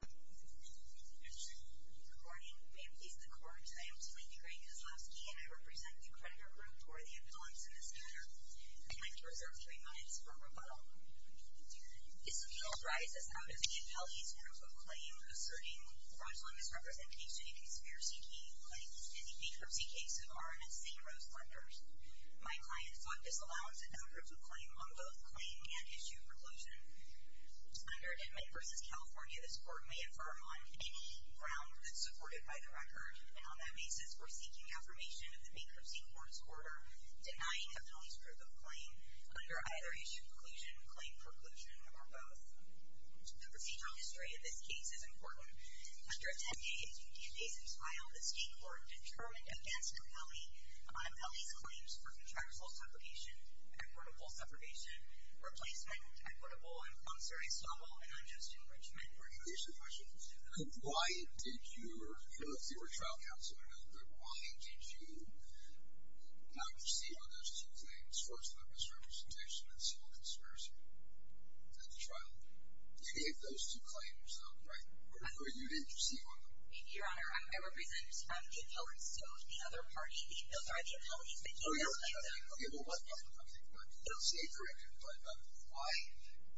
Good morning. I am Lisa Korch. I am 23 years old, and I represent the Creditor Group for the appellants in this matter. I'd like to reserve three minutes for rebuttal. This appeal arises out of the appellee's terms of claim asserting fraudulent misrepresentation in a conspiracy key claim in the bankruptcy case of RMS St. Rose Plumbers. My client fought this allowance in two groups of claim on both claim and issue preclusion. Under Admit v. California, this Court may affirm on any ground that's supported by the record, and on that basis, we're seeking affirmation of the Bankruptcy Court's order denying the appellee's proof of claim under either issue preclusion, claim preclusion, or both. The procedural history of this case is important. After a 10-day invasive trial, the State Court determined against the appellee, the appellee's claims for contractual separation, equitable separation, replacement, equitable and concerning stumble, and unjust enrichment were denied. I have a question. Why did your, you know, if you were a trial counselor, why did you not receive on those two claims fraudulent misrepresentation in civil conspiracy at the trial? You gave those two claims, right? Or you didn't receive on them? Your Honor, I represent the appellee's code, the other party. Those are the appellee's material claims. Okay, well, let me ask you something. I don't see a correction, but why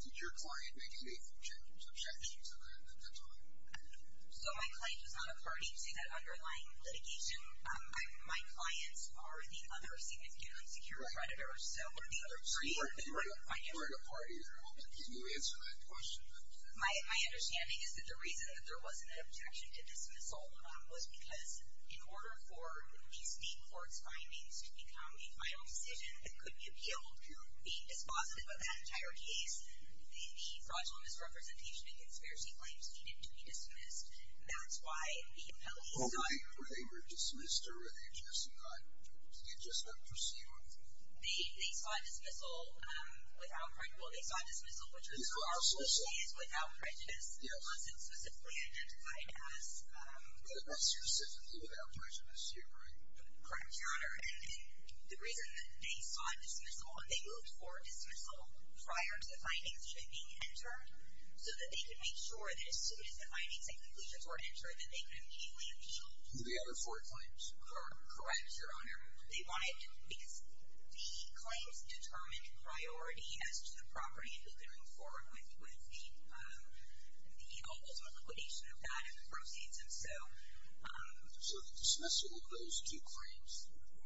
did your client make any objections at the time? So my client was not a party to that underlying litigation. My clients are the other significant insecure creditor, so the other party is not a party at all. Can you answer that question? My understanding is that the reason that there wasn't an objection to dismissal was because in order for these main court's findings to become a final decision that could be appealed to be dispositive of that entire case, the fraudulent misrepresentation and conspiracy claims needed to be dismissed. That's why the appellee's claim was denied. They were dismissed or were they just not perceived? They sought dismissal without prejudice. These are our solutions. They sought dismissal, which was largely without prejudice. It wasn't specifically identified as... It was specifically without prejudice, you're correct. Correct, Your Honor. And the reason that they sought dismissal, and they looked for dismissal prior to the findings being entered, so that they could make sure that as soon as the findings and conclusions were entered, that they could immediately appeal. The other four claims. Correct, Your Honor. They wanted, because the claims determined priority as to the property that they were going forward with, with the ultimate liquidation of that and the proceeds, and so... So the dismissal of those two claims,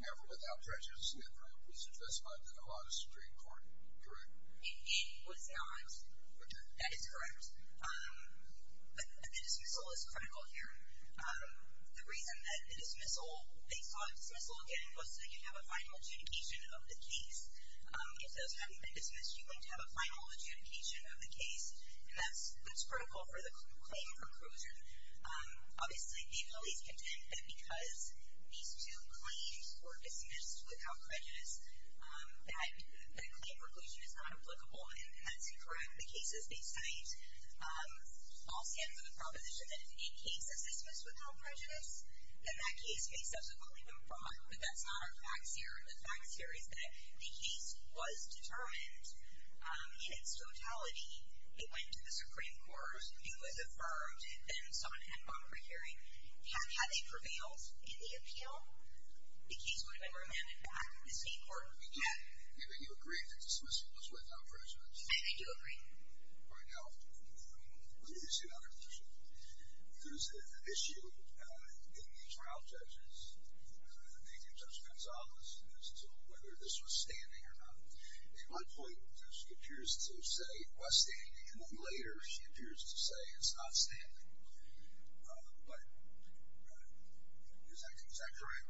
never without prejudice, was addressed by the Obama Supreme Court, correct? It was not. That is correct. But the dismissal is critical here. The reason that the dismissal... They sought dismissal, again, was so that you could have a final adjudication of the case. If those hadn't been dismissed, you wouldn't have a final adjudication of the case, and that's critical for the claim conclusion. Obviously, the police contend that because these two claims were dismissed without prejudice, that the claim conclusion is not applicable, and that's incorrect. The cases they cite all stand for the proposition that if a case is dismissed without prejudice, then that case may subsequently be brought, but that's not our facts here. The facts here is that the case was determined in its totality. It went to the Supreme Court. It was affirmed. Then someone had a bond for hearing. Had they prevailed in the appeal, the case would have been remanded back to the State Court again. You agree that dismissal was without prejudice? I agree. Right now, I'm going to use another position. There's an issue in the trial judges making judgments on this, as to whether this was standing or not. At one point, she appears to say it was standing, and then later she appears to say it's not standing. But is that correct?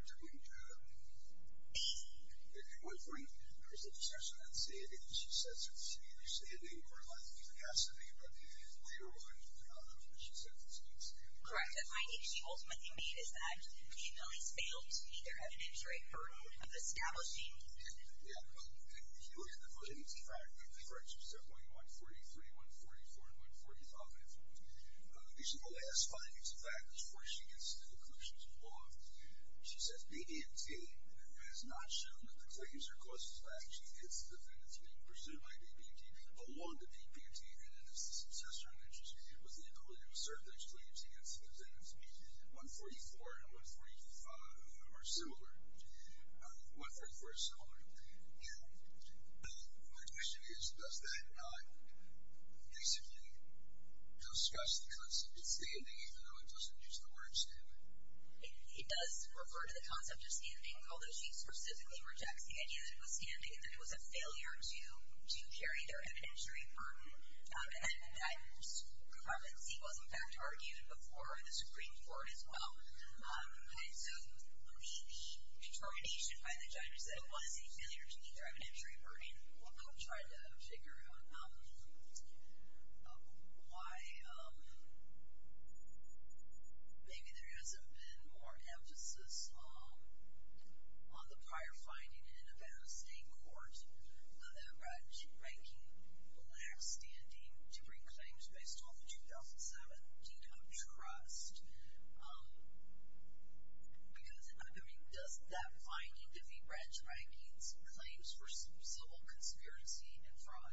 Correct. I think she ultimately means that the appeal has failed to meet their evidentiary hurdle of establishing. Yeah. But if you look at the version of the fact, that's correct. She said 0.143, 1.44, and 1.45. At least in the last five years of that, that's where she gets to the conclusions of the law. She said it was not standing. She said it was not standing. It says BBMT, who has not shown that the Clay user causes by action, its defendants being presumed by BBMT, along with BBMT, and its successor in that case, was the ability to assert those claims against the defendants, 1.44 and 1.45 are similar. 1.44 is similar. My question is, does that not, basically, discuss the concept of standing, even though it doesn't use the word standing? It does refer to the concept of standing, although she specifically rejects the idea that it was standing, that it was a failure to carry their evidentiary burden. And that confidency was, in fact, argued before the Supreme Court as well. And so, I mean, determination by the judge that it was a failure to meet their evidentiary burden. I'm trying to figure out why maybe there hasn't been more emphasis on the prior finding in the Nevada State Court that branch ranking lacks standing to bring claims based on the 2017 trust. Because, I mean, doesn't that bind you to the branch rankings and claims for civil conspiracy and fraud?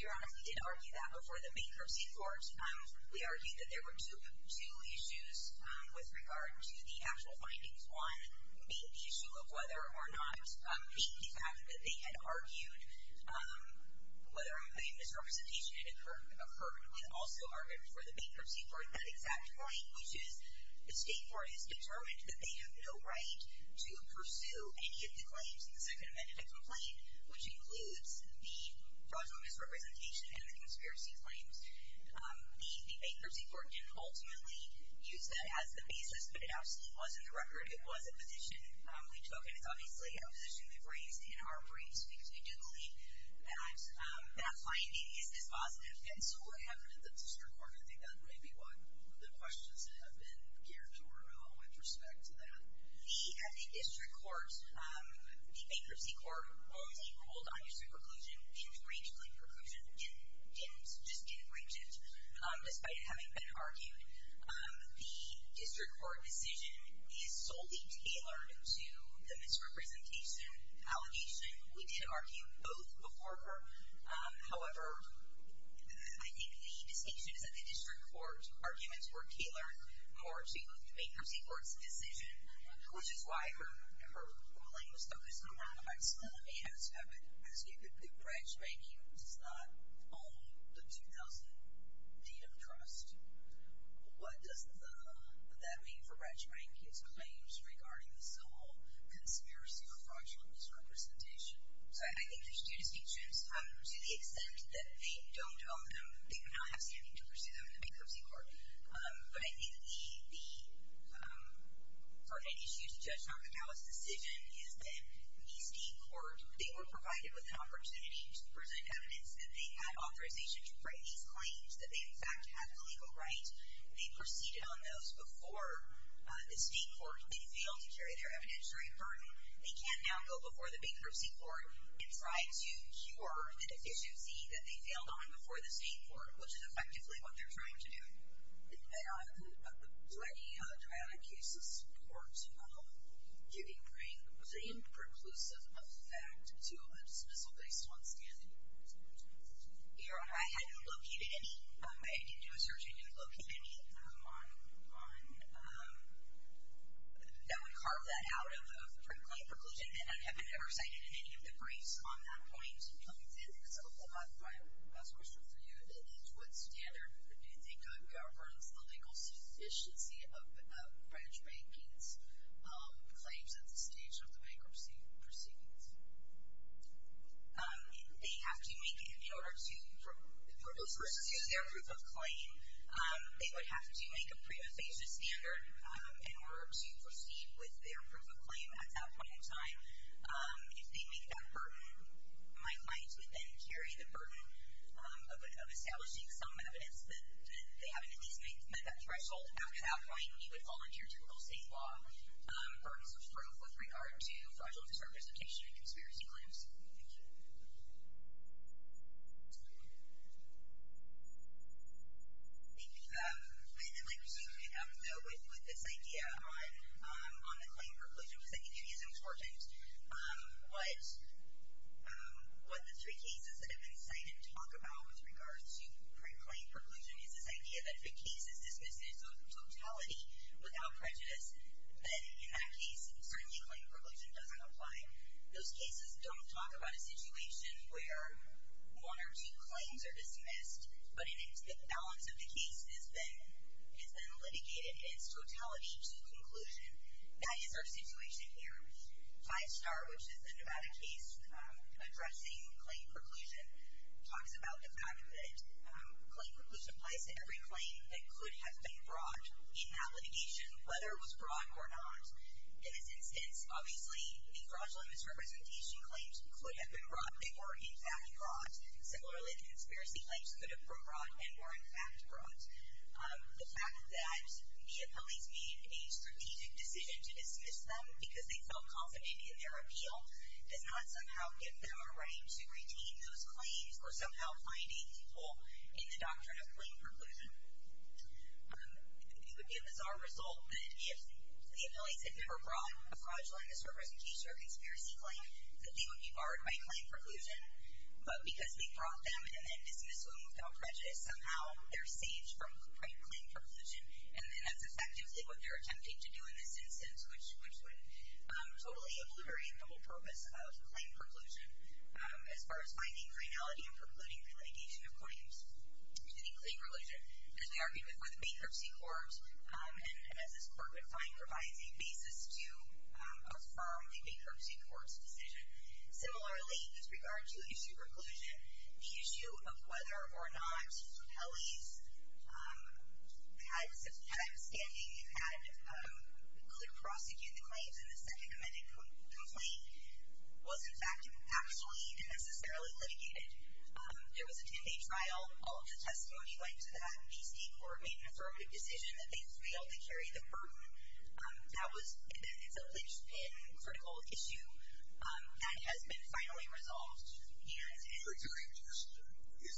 Your Honor, we did argue that before the Bankruptcy Court. We argued that there were two issues with regard to the actual findings. One being the issue of whether or not the fact that they had argued, whether or not the misrepresentation had occurred, and also argued before the Bankruptcy Court that exact point, which is the State Court has determined that they have no right to pursue any of the claims in the Second Amendment complaint, which includes the fraudulent misrepresentation and the conspiracy claims. The Bankruptcy Court didn't ultimately use that as the basis, but it obviously was in the record. It was a position we took, and it's obviously a position we've raised in our briefs, because we do believe that that finding is dispositive. And so what happened at the District Court? I think that may be one of the questions that have been geared toward, with respect to that. At the District Court, the Bankruptcy Court, although they ruled on district preclusion, didn't range claim preclusion, just didn't range it, despite it having been argued. The District Court decision is solely tailored to the misrepresentation allegation. We did argue both before her. However, I think the decisions at the District Court, arguments were tailored more to Bankruptcy Court's decision, which is why her ruling was focused on one of the facts. It has happened, as you could put. Branch Banking does not own the 2000 deed of trust. What does that mean for Branch Banking's claims regarding the sole conspiracy or fraudulent misrepresentation? Sorry, I think there's two distinctions. To the extent that they don't own them, they would not have standing to pursue them in the Bankruptcy Court. But I think the pertinent issue to Judge Narcanales' decision is that in the State Court, they were provided with an opportunity to present evidence that they had authorization to write these claims, that they in fact had the legal right. They proceeded on those before the State Court. They failed to carry their evidentiary burden. They can now go before the Bankruptcy Court and try to cure the deficiency that they failed on before the State Court, which is effectively what they're trying to do. Do any trial and cases courts, Judy Green, was there any preclusive effect to a dismissal based on standing? I hadn't located any. I didn't do a search and didn't locate any on that would carve that out of the claim preclusion, and I haven't ever cited any of the briefs on that point. I'll leave that as a follow-up. I'll ask a question for you. That is, what standard do you think governs the legal sufficiency of branch bankers' claims at the stage of the bankruptcy proceedings? They have to make, in order to pursue their proof of claim, they would have to make a prima facie standard in order to proceed with their proof of claim at that point in time. If they make that burden, my client would then carry the burden of establishing some evidence that they haven't at least met that threshold. After that point, we would volunteer to rule state law burdens of proof with regard to fraudulent disrepresentation and conspiracy claims. Thank you. Thank you. I might just make a note with this idea on the claim preclusion, because I think it is important. What the three cases that have been cited talk about with regards to pre-claim preclusion is this idea that if a case is dismissed in its own totality without prejudice, then in that case, certainly claim preclusion doesn't apply. Those cases don't talk about a situation where one or two claims are dismissed, but the balance of the case has been litigated in its totality to the conclusion. That is our situation here. Five Star, which is a nomadic case addressing claim preclusion, talks about the fact that claim preclusion applies to every claim that could have been brought in that litigation, whether it was brought or not. In this instance, obviously, the fraudulent misrepresentation claims could have been brought. They were, in fact, brought. Similarly, conspiracy claims could have been brought and were, in fact, brought. The fact that the appellees made a strategic decision to dismiss them because they felt confident in their appeal does not somehow give them a right to retain those claims or somehow finding people in the doctrine of claim preclusion. It would be a bizarre result that if the appellees had never brought a fraudulent misrepresentation or a conspiracy claim, that they would be barred by claim preclusion. But because they brought them and then dismissed them without prejudice, somehow they're saved from claim preclusion. And that's effectively what they're attempting to do in this instance, which would totally obliterate the whole purpose of claim preclusion as far as finding criminality in precluding litigation according to any claim religion. As we argued with the bankruptcy court, and as this court would find, provides a basis to affirm the bankruptcy court's decision. Similarly, with regard to issue preclusion, the issue of whether or not appellees had a standing and could prosecute the claims in the second amended complaint was, in fact, actually necessarily litigated. There was a 10-day trial. All of the testimony went to the BACGC who made an affirmative decision that they failed. They carried the burden. And then it's a critical issue that has been finally resolved. Yes. Your attorney, Mr. Chairman, if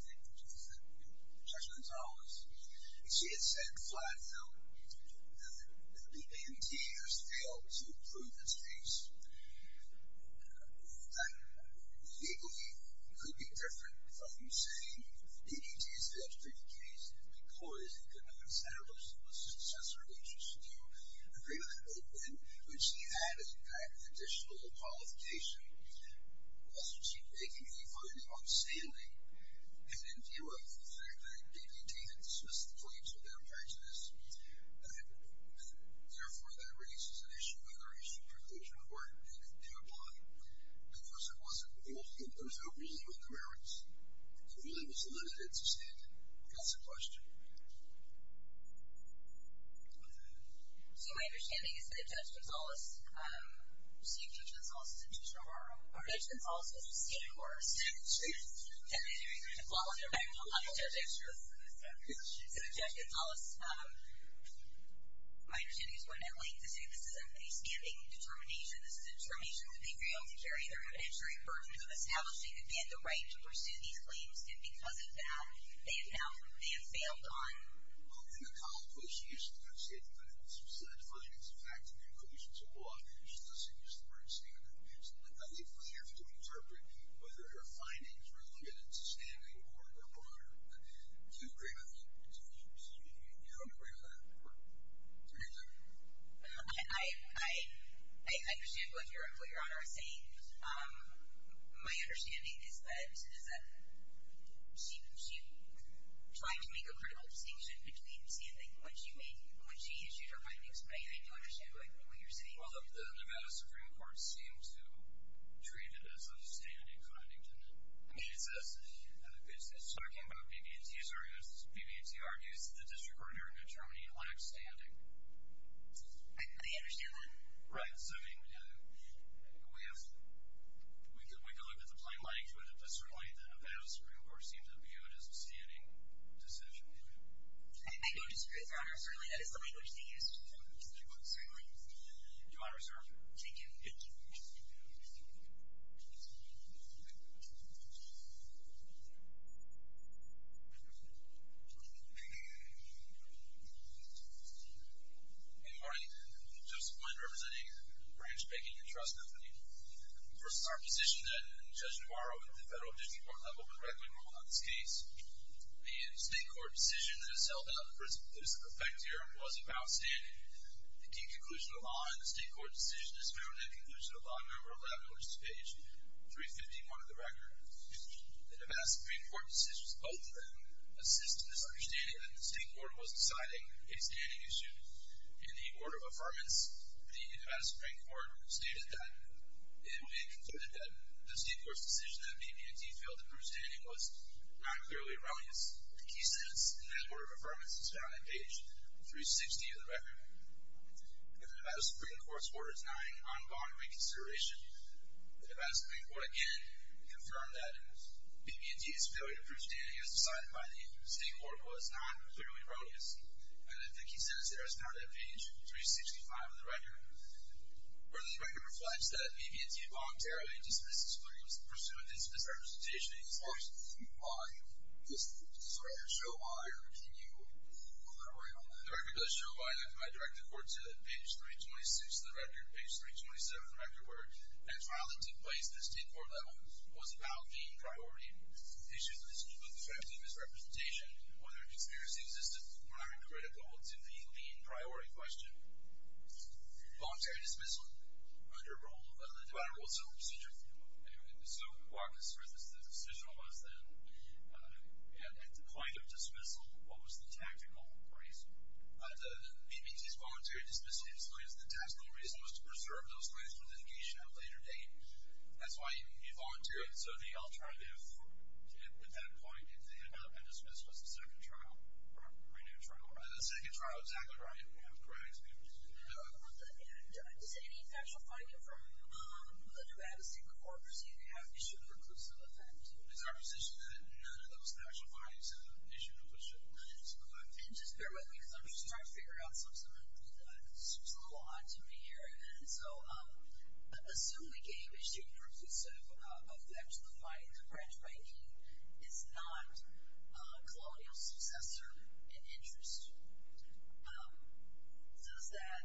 they could just say, you know, Judge Gonzales, she had said flat out that the BACGC has failed to prove the case. In fact, the BACGC could be different from saying the BACGC has failed to prove the case because it did not establish that it was a successor that she should do. The BACGC had, in fact, additional qualification. The BACGC taking the burden on standing and in view of the fact that BACGC had dismissed the claims for their prejudice, therefore, that raises an issue of whether issue preclusion were due to apply. Of course, it wasn't. Those who really were the merits, it really was the litigants who said, yes, of course. So my understanding is that Judge Gonzales, Chief Judge Gonzales is a teacher of our own. Judge Gonzales is a student of our own. She is a student of the BACGC. So, Judge Gonzales, my understanding is what I'd like to say, this isn't a standing determination. This is a determination that they failed to carry. They're actually burdened with establishing and get the right to pursue these claims, and because of that, they have failed on... Well, in the college, what she used to kind of say, it depends, so that's really just the fact that there are conditions of law and she doesn't use the word standing. So I think we have to interpret whether her findings were good at standing or they're broader. Do you agree with that? Do you agree with that? Senator? I... I understand what Your Honor is saying. My understanding is that she tried to make a critical distinction between standing when she issued her findings, and I think you understand what you're saying. Well, the Nevada Supreme Court seemed to treat it as a standing finding. I mean, it says... It's talking about BB&T's arguments. BB&T argues that the district court hearing of Germany lacks standing. I understand that. Right, so I mean, we have... We can look at the plain language but certainly the Nevada Supreme Court seems to view it as a standing decision. I don't disagree with Your Honor. Certainly, that is the language she used to make those arguments. Your Honor, sir. Thank you. Thank you. Thank you. Thank you. Thank you. Thank you. Thank you. Thank you. Thank you. Thank you. Thank you. Thank you. Good morning. Joseph Flynn representing Branch Banking and Trust Company. Of course, it's our position that Judge Navarro at the federal district court level would readily rule on this case. And the state court decision that has held up this effect here was about standing. The deep conclusion of the law in the state court decision is found in the conclusion of law in Memorandum 11, which is page 350, part of the record. The Nevada Supreme Court decisions, both of them, assist in this understanding that the state court was deciding a standing issue. In the order of affirmance, the Nevada Supreme Court stated that it concluded that the state court's decision that BB&T failed to prove standing was not clearly erroneous. The key sentence in that order of affirmance is found in page 360 of the record. If the Nevada Supreme Court's order is not an ongoing reconsideration, the Nevada Supreme Court again confirmed that BB&T's failure to prove standing as decided by the state court was not clearly erroneous. And the key sentence there is found in page 365 of the record, where the record reflects that BB&T voluntarily dismissed the Supreme Court's pursuant to its misrepresentation. As far as you argue, does this record show why, or can you clarify on that? The record does show why that's my direct accord to page 326 of the record, page 327 of the record, where a trial that took place at the state court level was about being priority. Issues in this case whether conspiracy exists or not are critical to the main priority question. Voluntary dismissal under rule of the Nevada Rules of Procedure. Anyway, so what concerns us, the decision of us then, at the point of dismissal, what was the tactical reason? The BB&T's voluntary dismissal explains the tactical reason was to preserve those claims for litigation at a later date. That's why you volunteer. So the alternative at that point, if they end up under dismissal, it's a second trial, or a renewed trial. A second trial, exactly right. Correct. Does any factual finding from the Nevada State Court or state have issued a reclusive offense? It's our position that none of those factual findings have issued a reclusive offense. And just bear with me because I'm just trying to figure out something that seems a little odd to me here. And so, assume we gave a statement or a reclusive of factual findings that the branch ranking is not a colonial successor in interest. Does that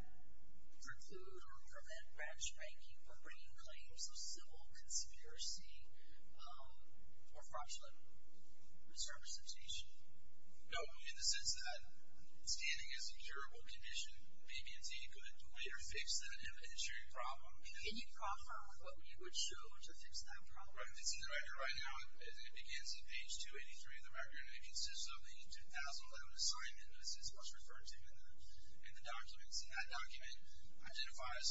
preclude or prevent branch ranking for bringing claims of civil conspiracy or fraudulent service litigation? No. In the sense that standing as a curable condition, BB&T could later fix that inventory problem. Can you proffer what we would show to fix that problem? Well, if you see the record right now, it begins at page 283 of the record. It consists of the 2011 assignment that is most referred to in the documents. And that document identifies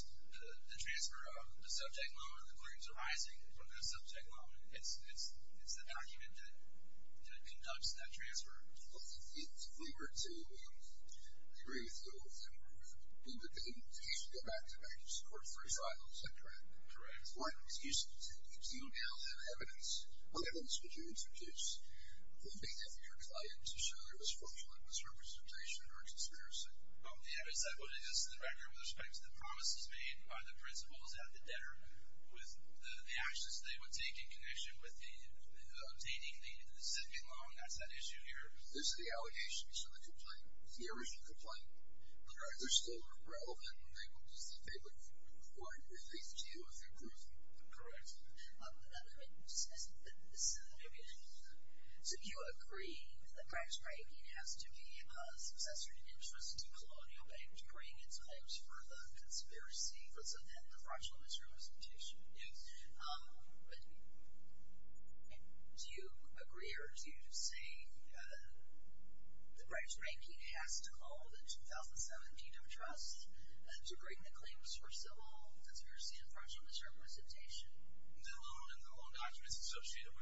the transfer of the subject moment of the claims arising from that subject moment. It's the document that conducts that transfer. Well, if we were to agree with you, then you should get back to page 435. Correct. One, excuse me. Do you now have evidence? What evidence would you introduce? Who made that your client to show there was fraudulent misrepresentation or conspiracy? The evidence that would exist in the record with respect to the promises made by the principals at the debtor with the actions they would take in connection with obtaining the zipping loan, that's that issue here. Those are the allegations from the complaint. Here is your complaint. The records still are relevant and they will be subpoenaed according to page 2 of your complaint. Correct. So you agree that the breach banking has to be a successor to interest to Colonial Bank to bring its hopes for the conspiracy for the fraudulent misrepresentation. Yes. Do you agree or do you say the breach banking has to call the 2017 trust to bring the claims for civil conspiracy and fraudulent misrepresentation? The loan and the loan documents associated with it. The answer to that would be yes. And you say that that record that you just equated to reflects that. That's correct, your honor. I have to get to page 283 of the record. It's a document entitled Assignment and Assumption of Debtor Trust Loan Documents and Associated Documents and Rights. And this is the kind of document that was executed in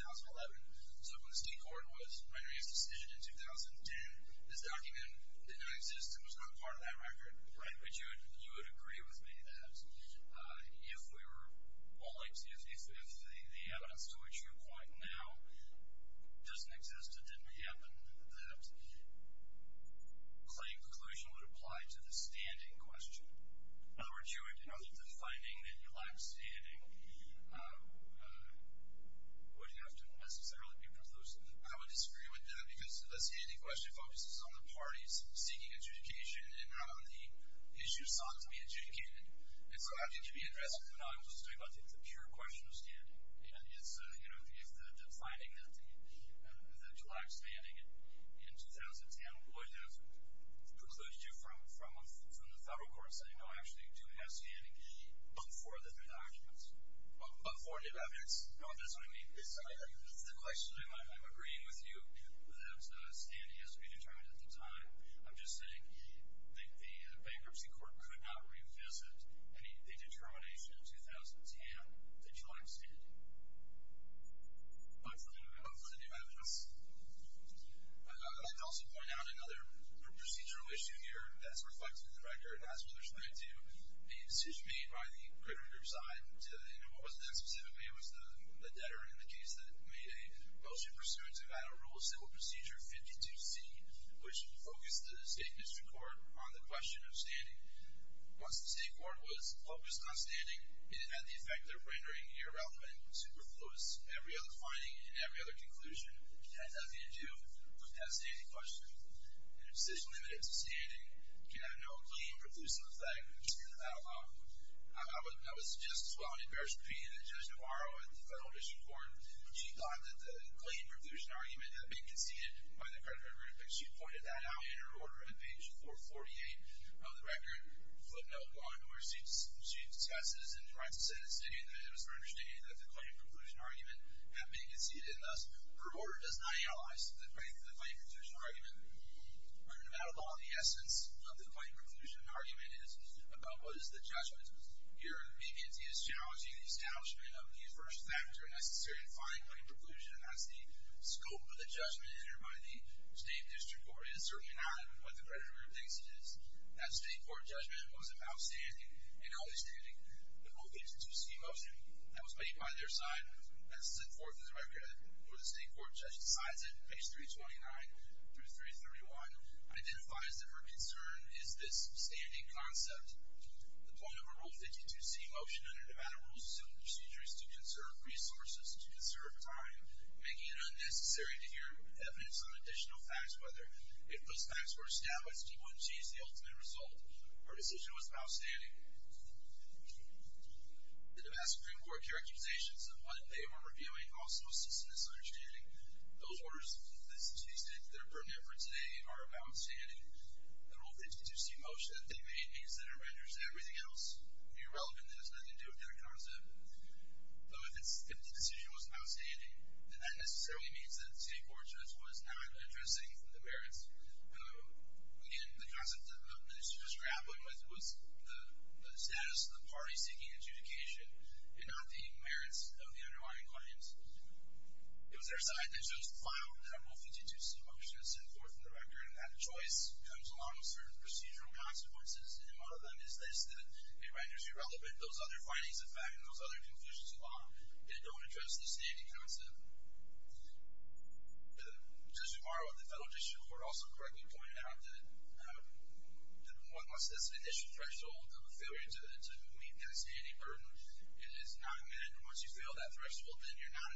2011. So when the state court was making its decision in 2010, this document didn't exist and was not part of that record. Right. But you would agree with me that if we were well excuse me if the evidence to which you point now doesn't exist and didn't happen that claim conclusion would apply to the standing question. In other words, you would know that the finding that you lack standing would have to be preclusive. I would disagree with that because the standing question focuses on the parties seeking adjudication and how the issues sought to be adjudicated. And so I think you'd be interested in knowing what to do about the pure question of standing. You know, the finding that you lack standing in 2010 would have precluded you from the federal court saying, no, I actually do have standing but for the new documents. But for the evidence? No, that's what I mean. The question I'm agreeing with you that standing has to be determined at the time. I'm just saying the bankruptcy court could not revisit the determination of 2010 that you lack standing. But for the new evidence. I'd also point out another procedural issue here that's reflected in the record and that's what they're trying to do. A decision made by the creditor side to, you know, what was that specifically? It was the debtor in the case that made a motion pursuant to final rule civil procedure 52C which focused the state district court on the question of standing. Once the state court was focused on standing it had the effect of rendering irrelevant superfluous. Every other finding and every other conclusion had nothing to do with that standing question. And the decision limited to standing had no claim producing effect. I would suggest to our embarrassment being that Judge Navarro at the federal court said that the fighting conclusion argument had been conceded. The essence of the fighting conclusion argument is about what is the judgment. Here he is challenging the establishment of the first factor necessary to define fighting conclusion as the scope of the judgment entered by the state district court. It is certainly not what the creditor thinks it is. That state court judgment was about standing and always standing. The ruling was to preserve resources and to conserve time. If those facts were established he wouldn't choose the ultimate result. Our decision was about standing. The Damascus Supreme Court characterization of what they were doing was not addressing the merits. Again, the concept that the minister was grappling with was the status of the parties seeking adjudication and not the merits of the underlying claims. It was their side that chose the file that I will talk bit more detail. It is not a choice. It is irrelevant. Those other findings and conclusions don't address the standing concept. The Federal Judiciary Court does not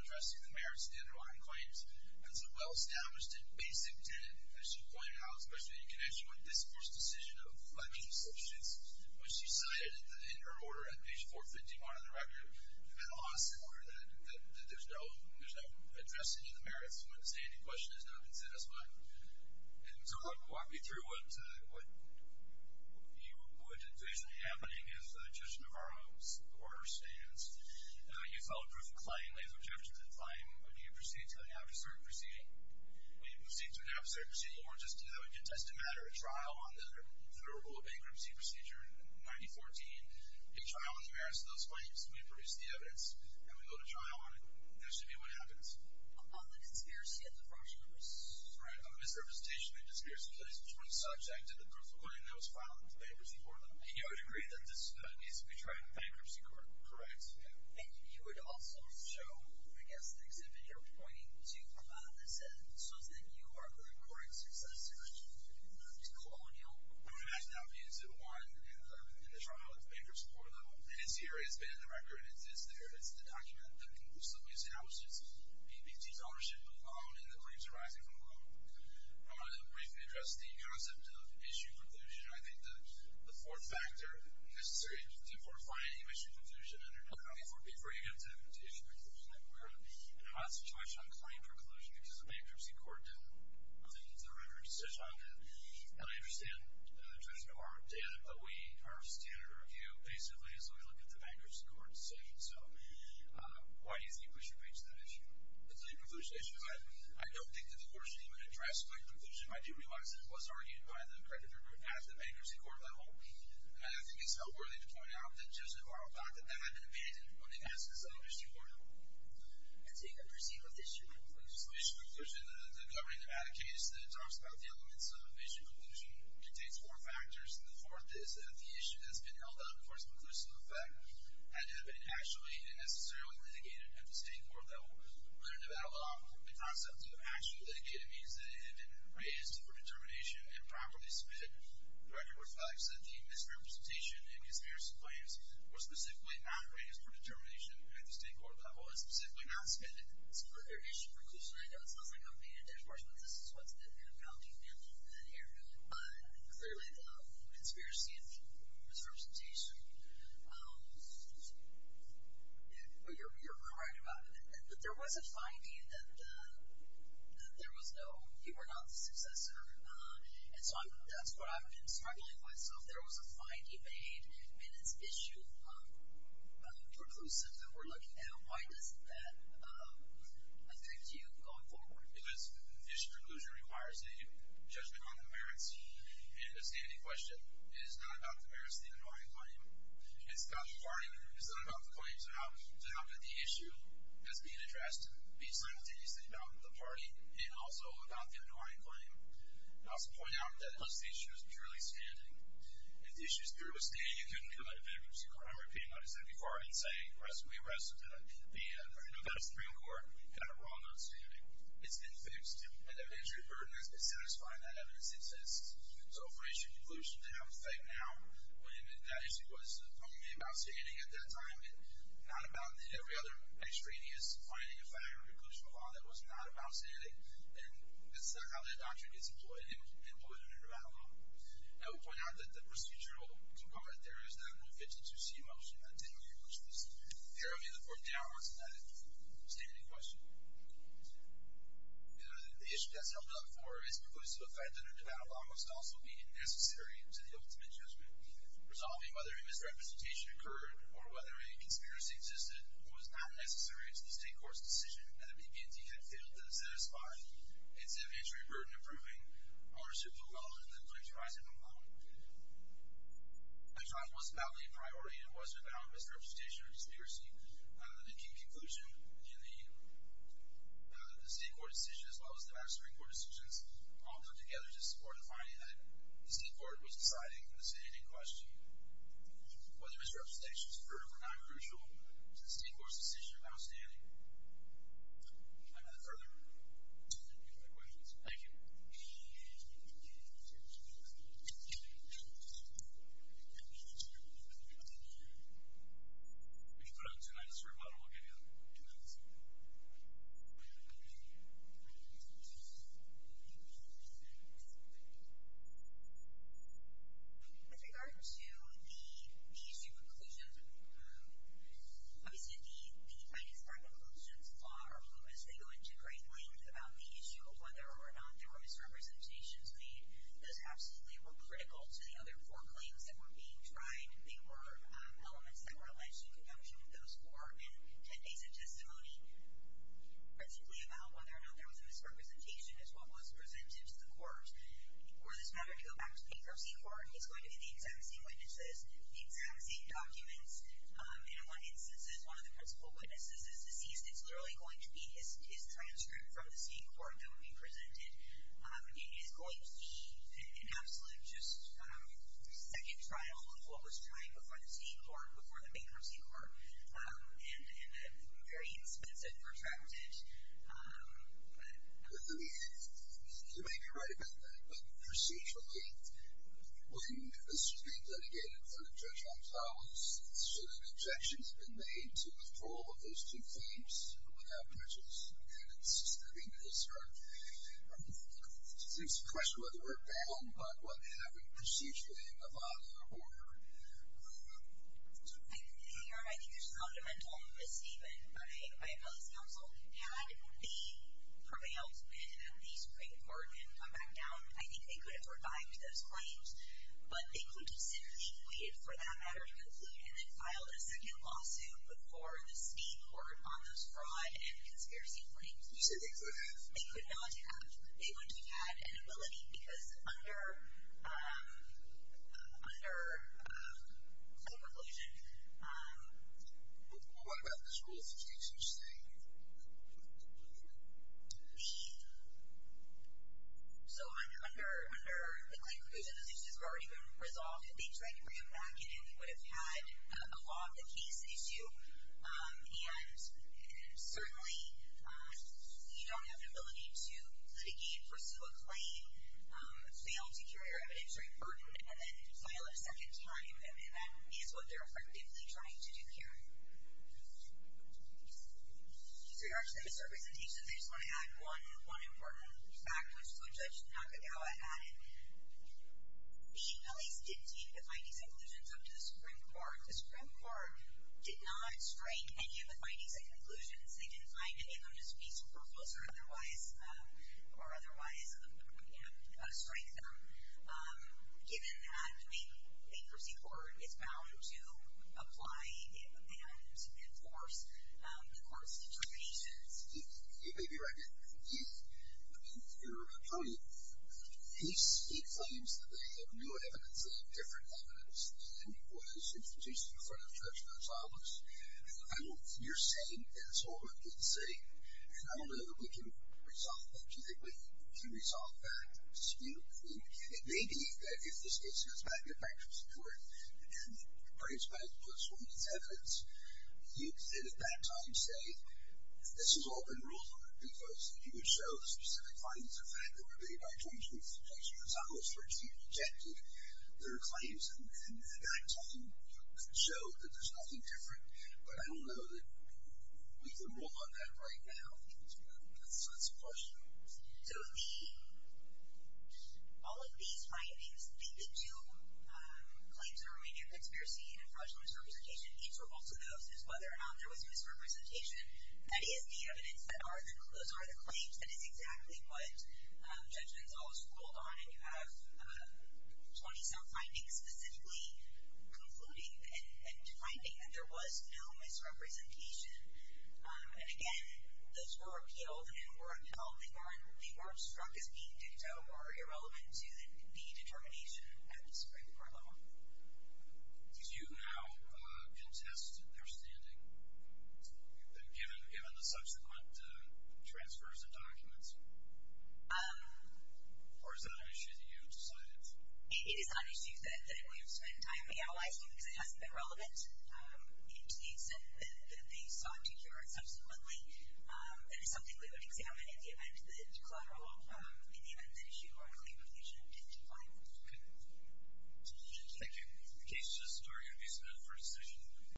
address the merits of the underlying claims. It is a well established and basic tenet, as she pointed out, especially in connection with this Court's decision of flagging substitutes, which she cited in her order at the time claim. I will not say any question has not been satisfied. Walk me through what is actually happening as Judge Navarro's order stands. You file a proof of claim. When you proceed to an absurd proceeding, or a trial on the rule of bankruptcy procedure in 1914, you go to trial and there should be what happens. A misrepresentation and a disappearance of place between the subject and the proof of claim. You would also show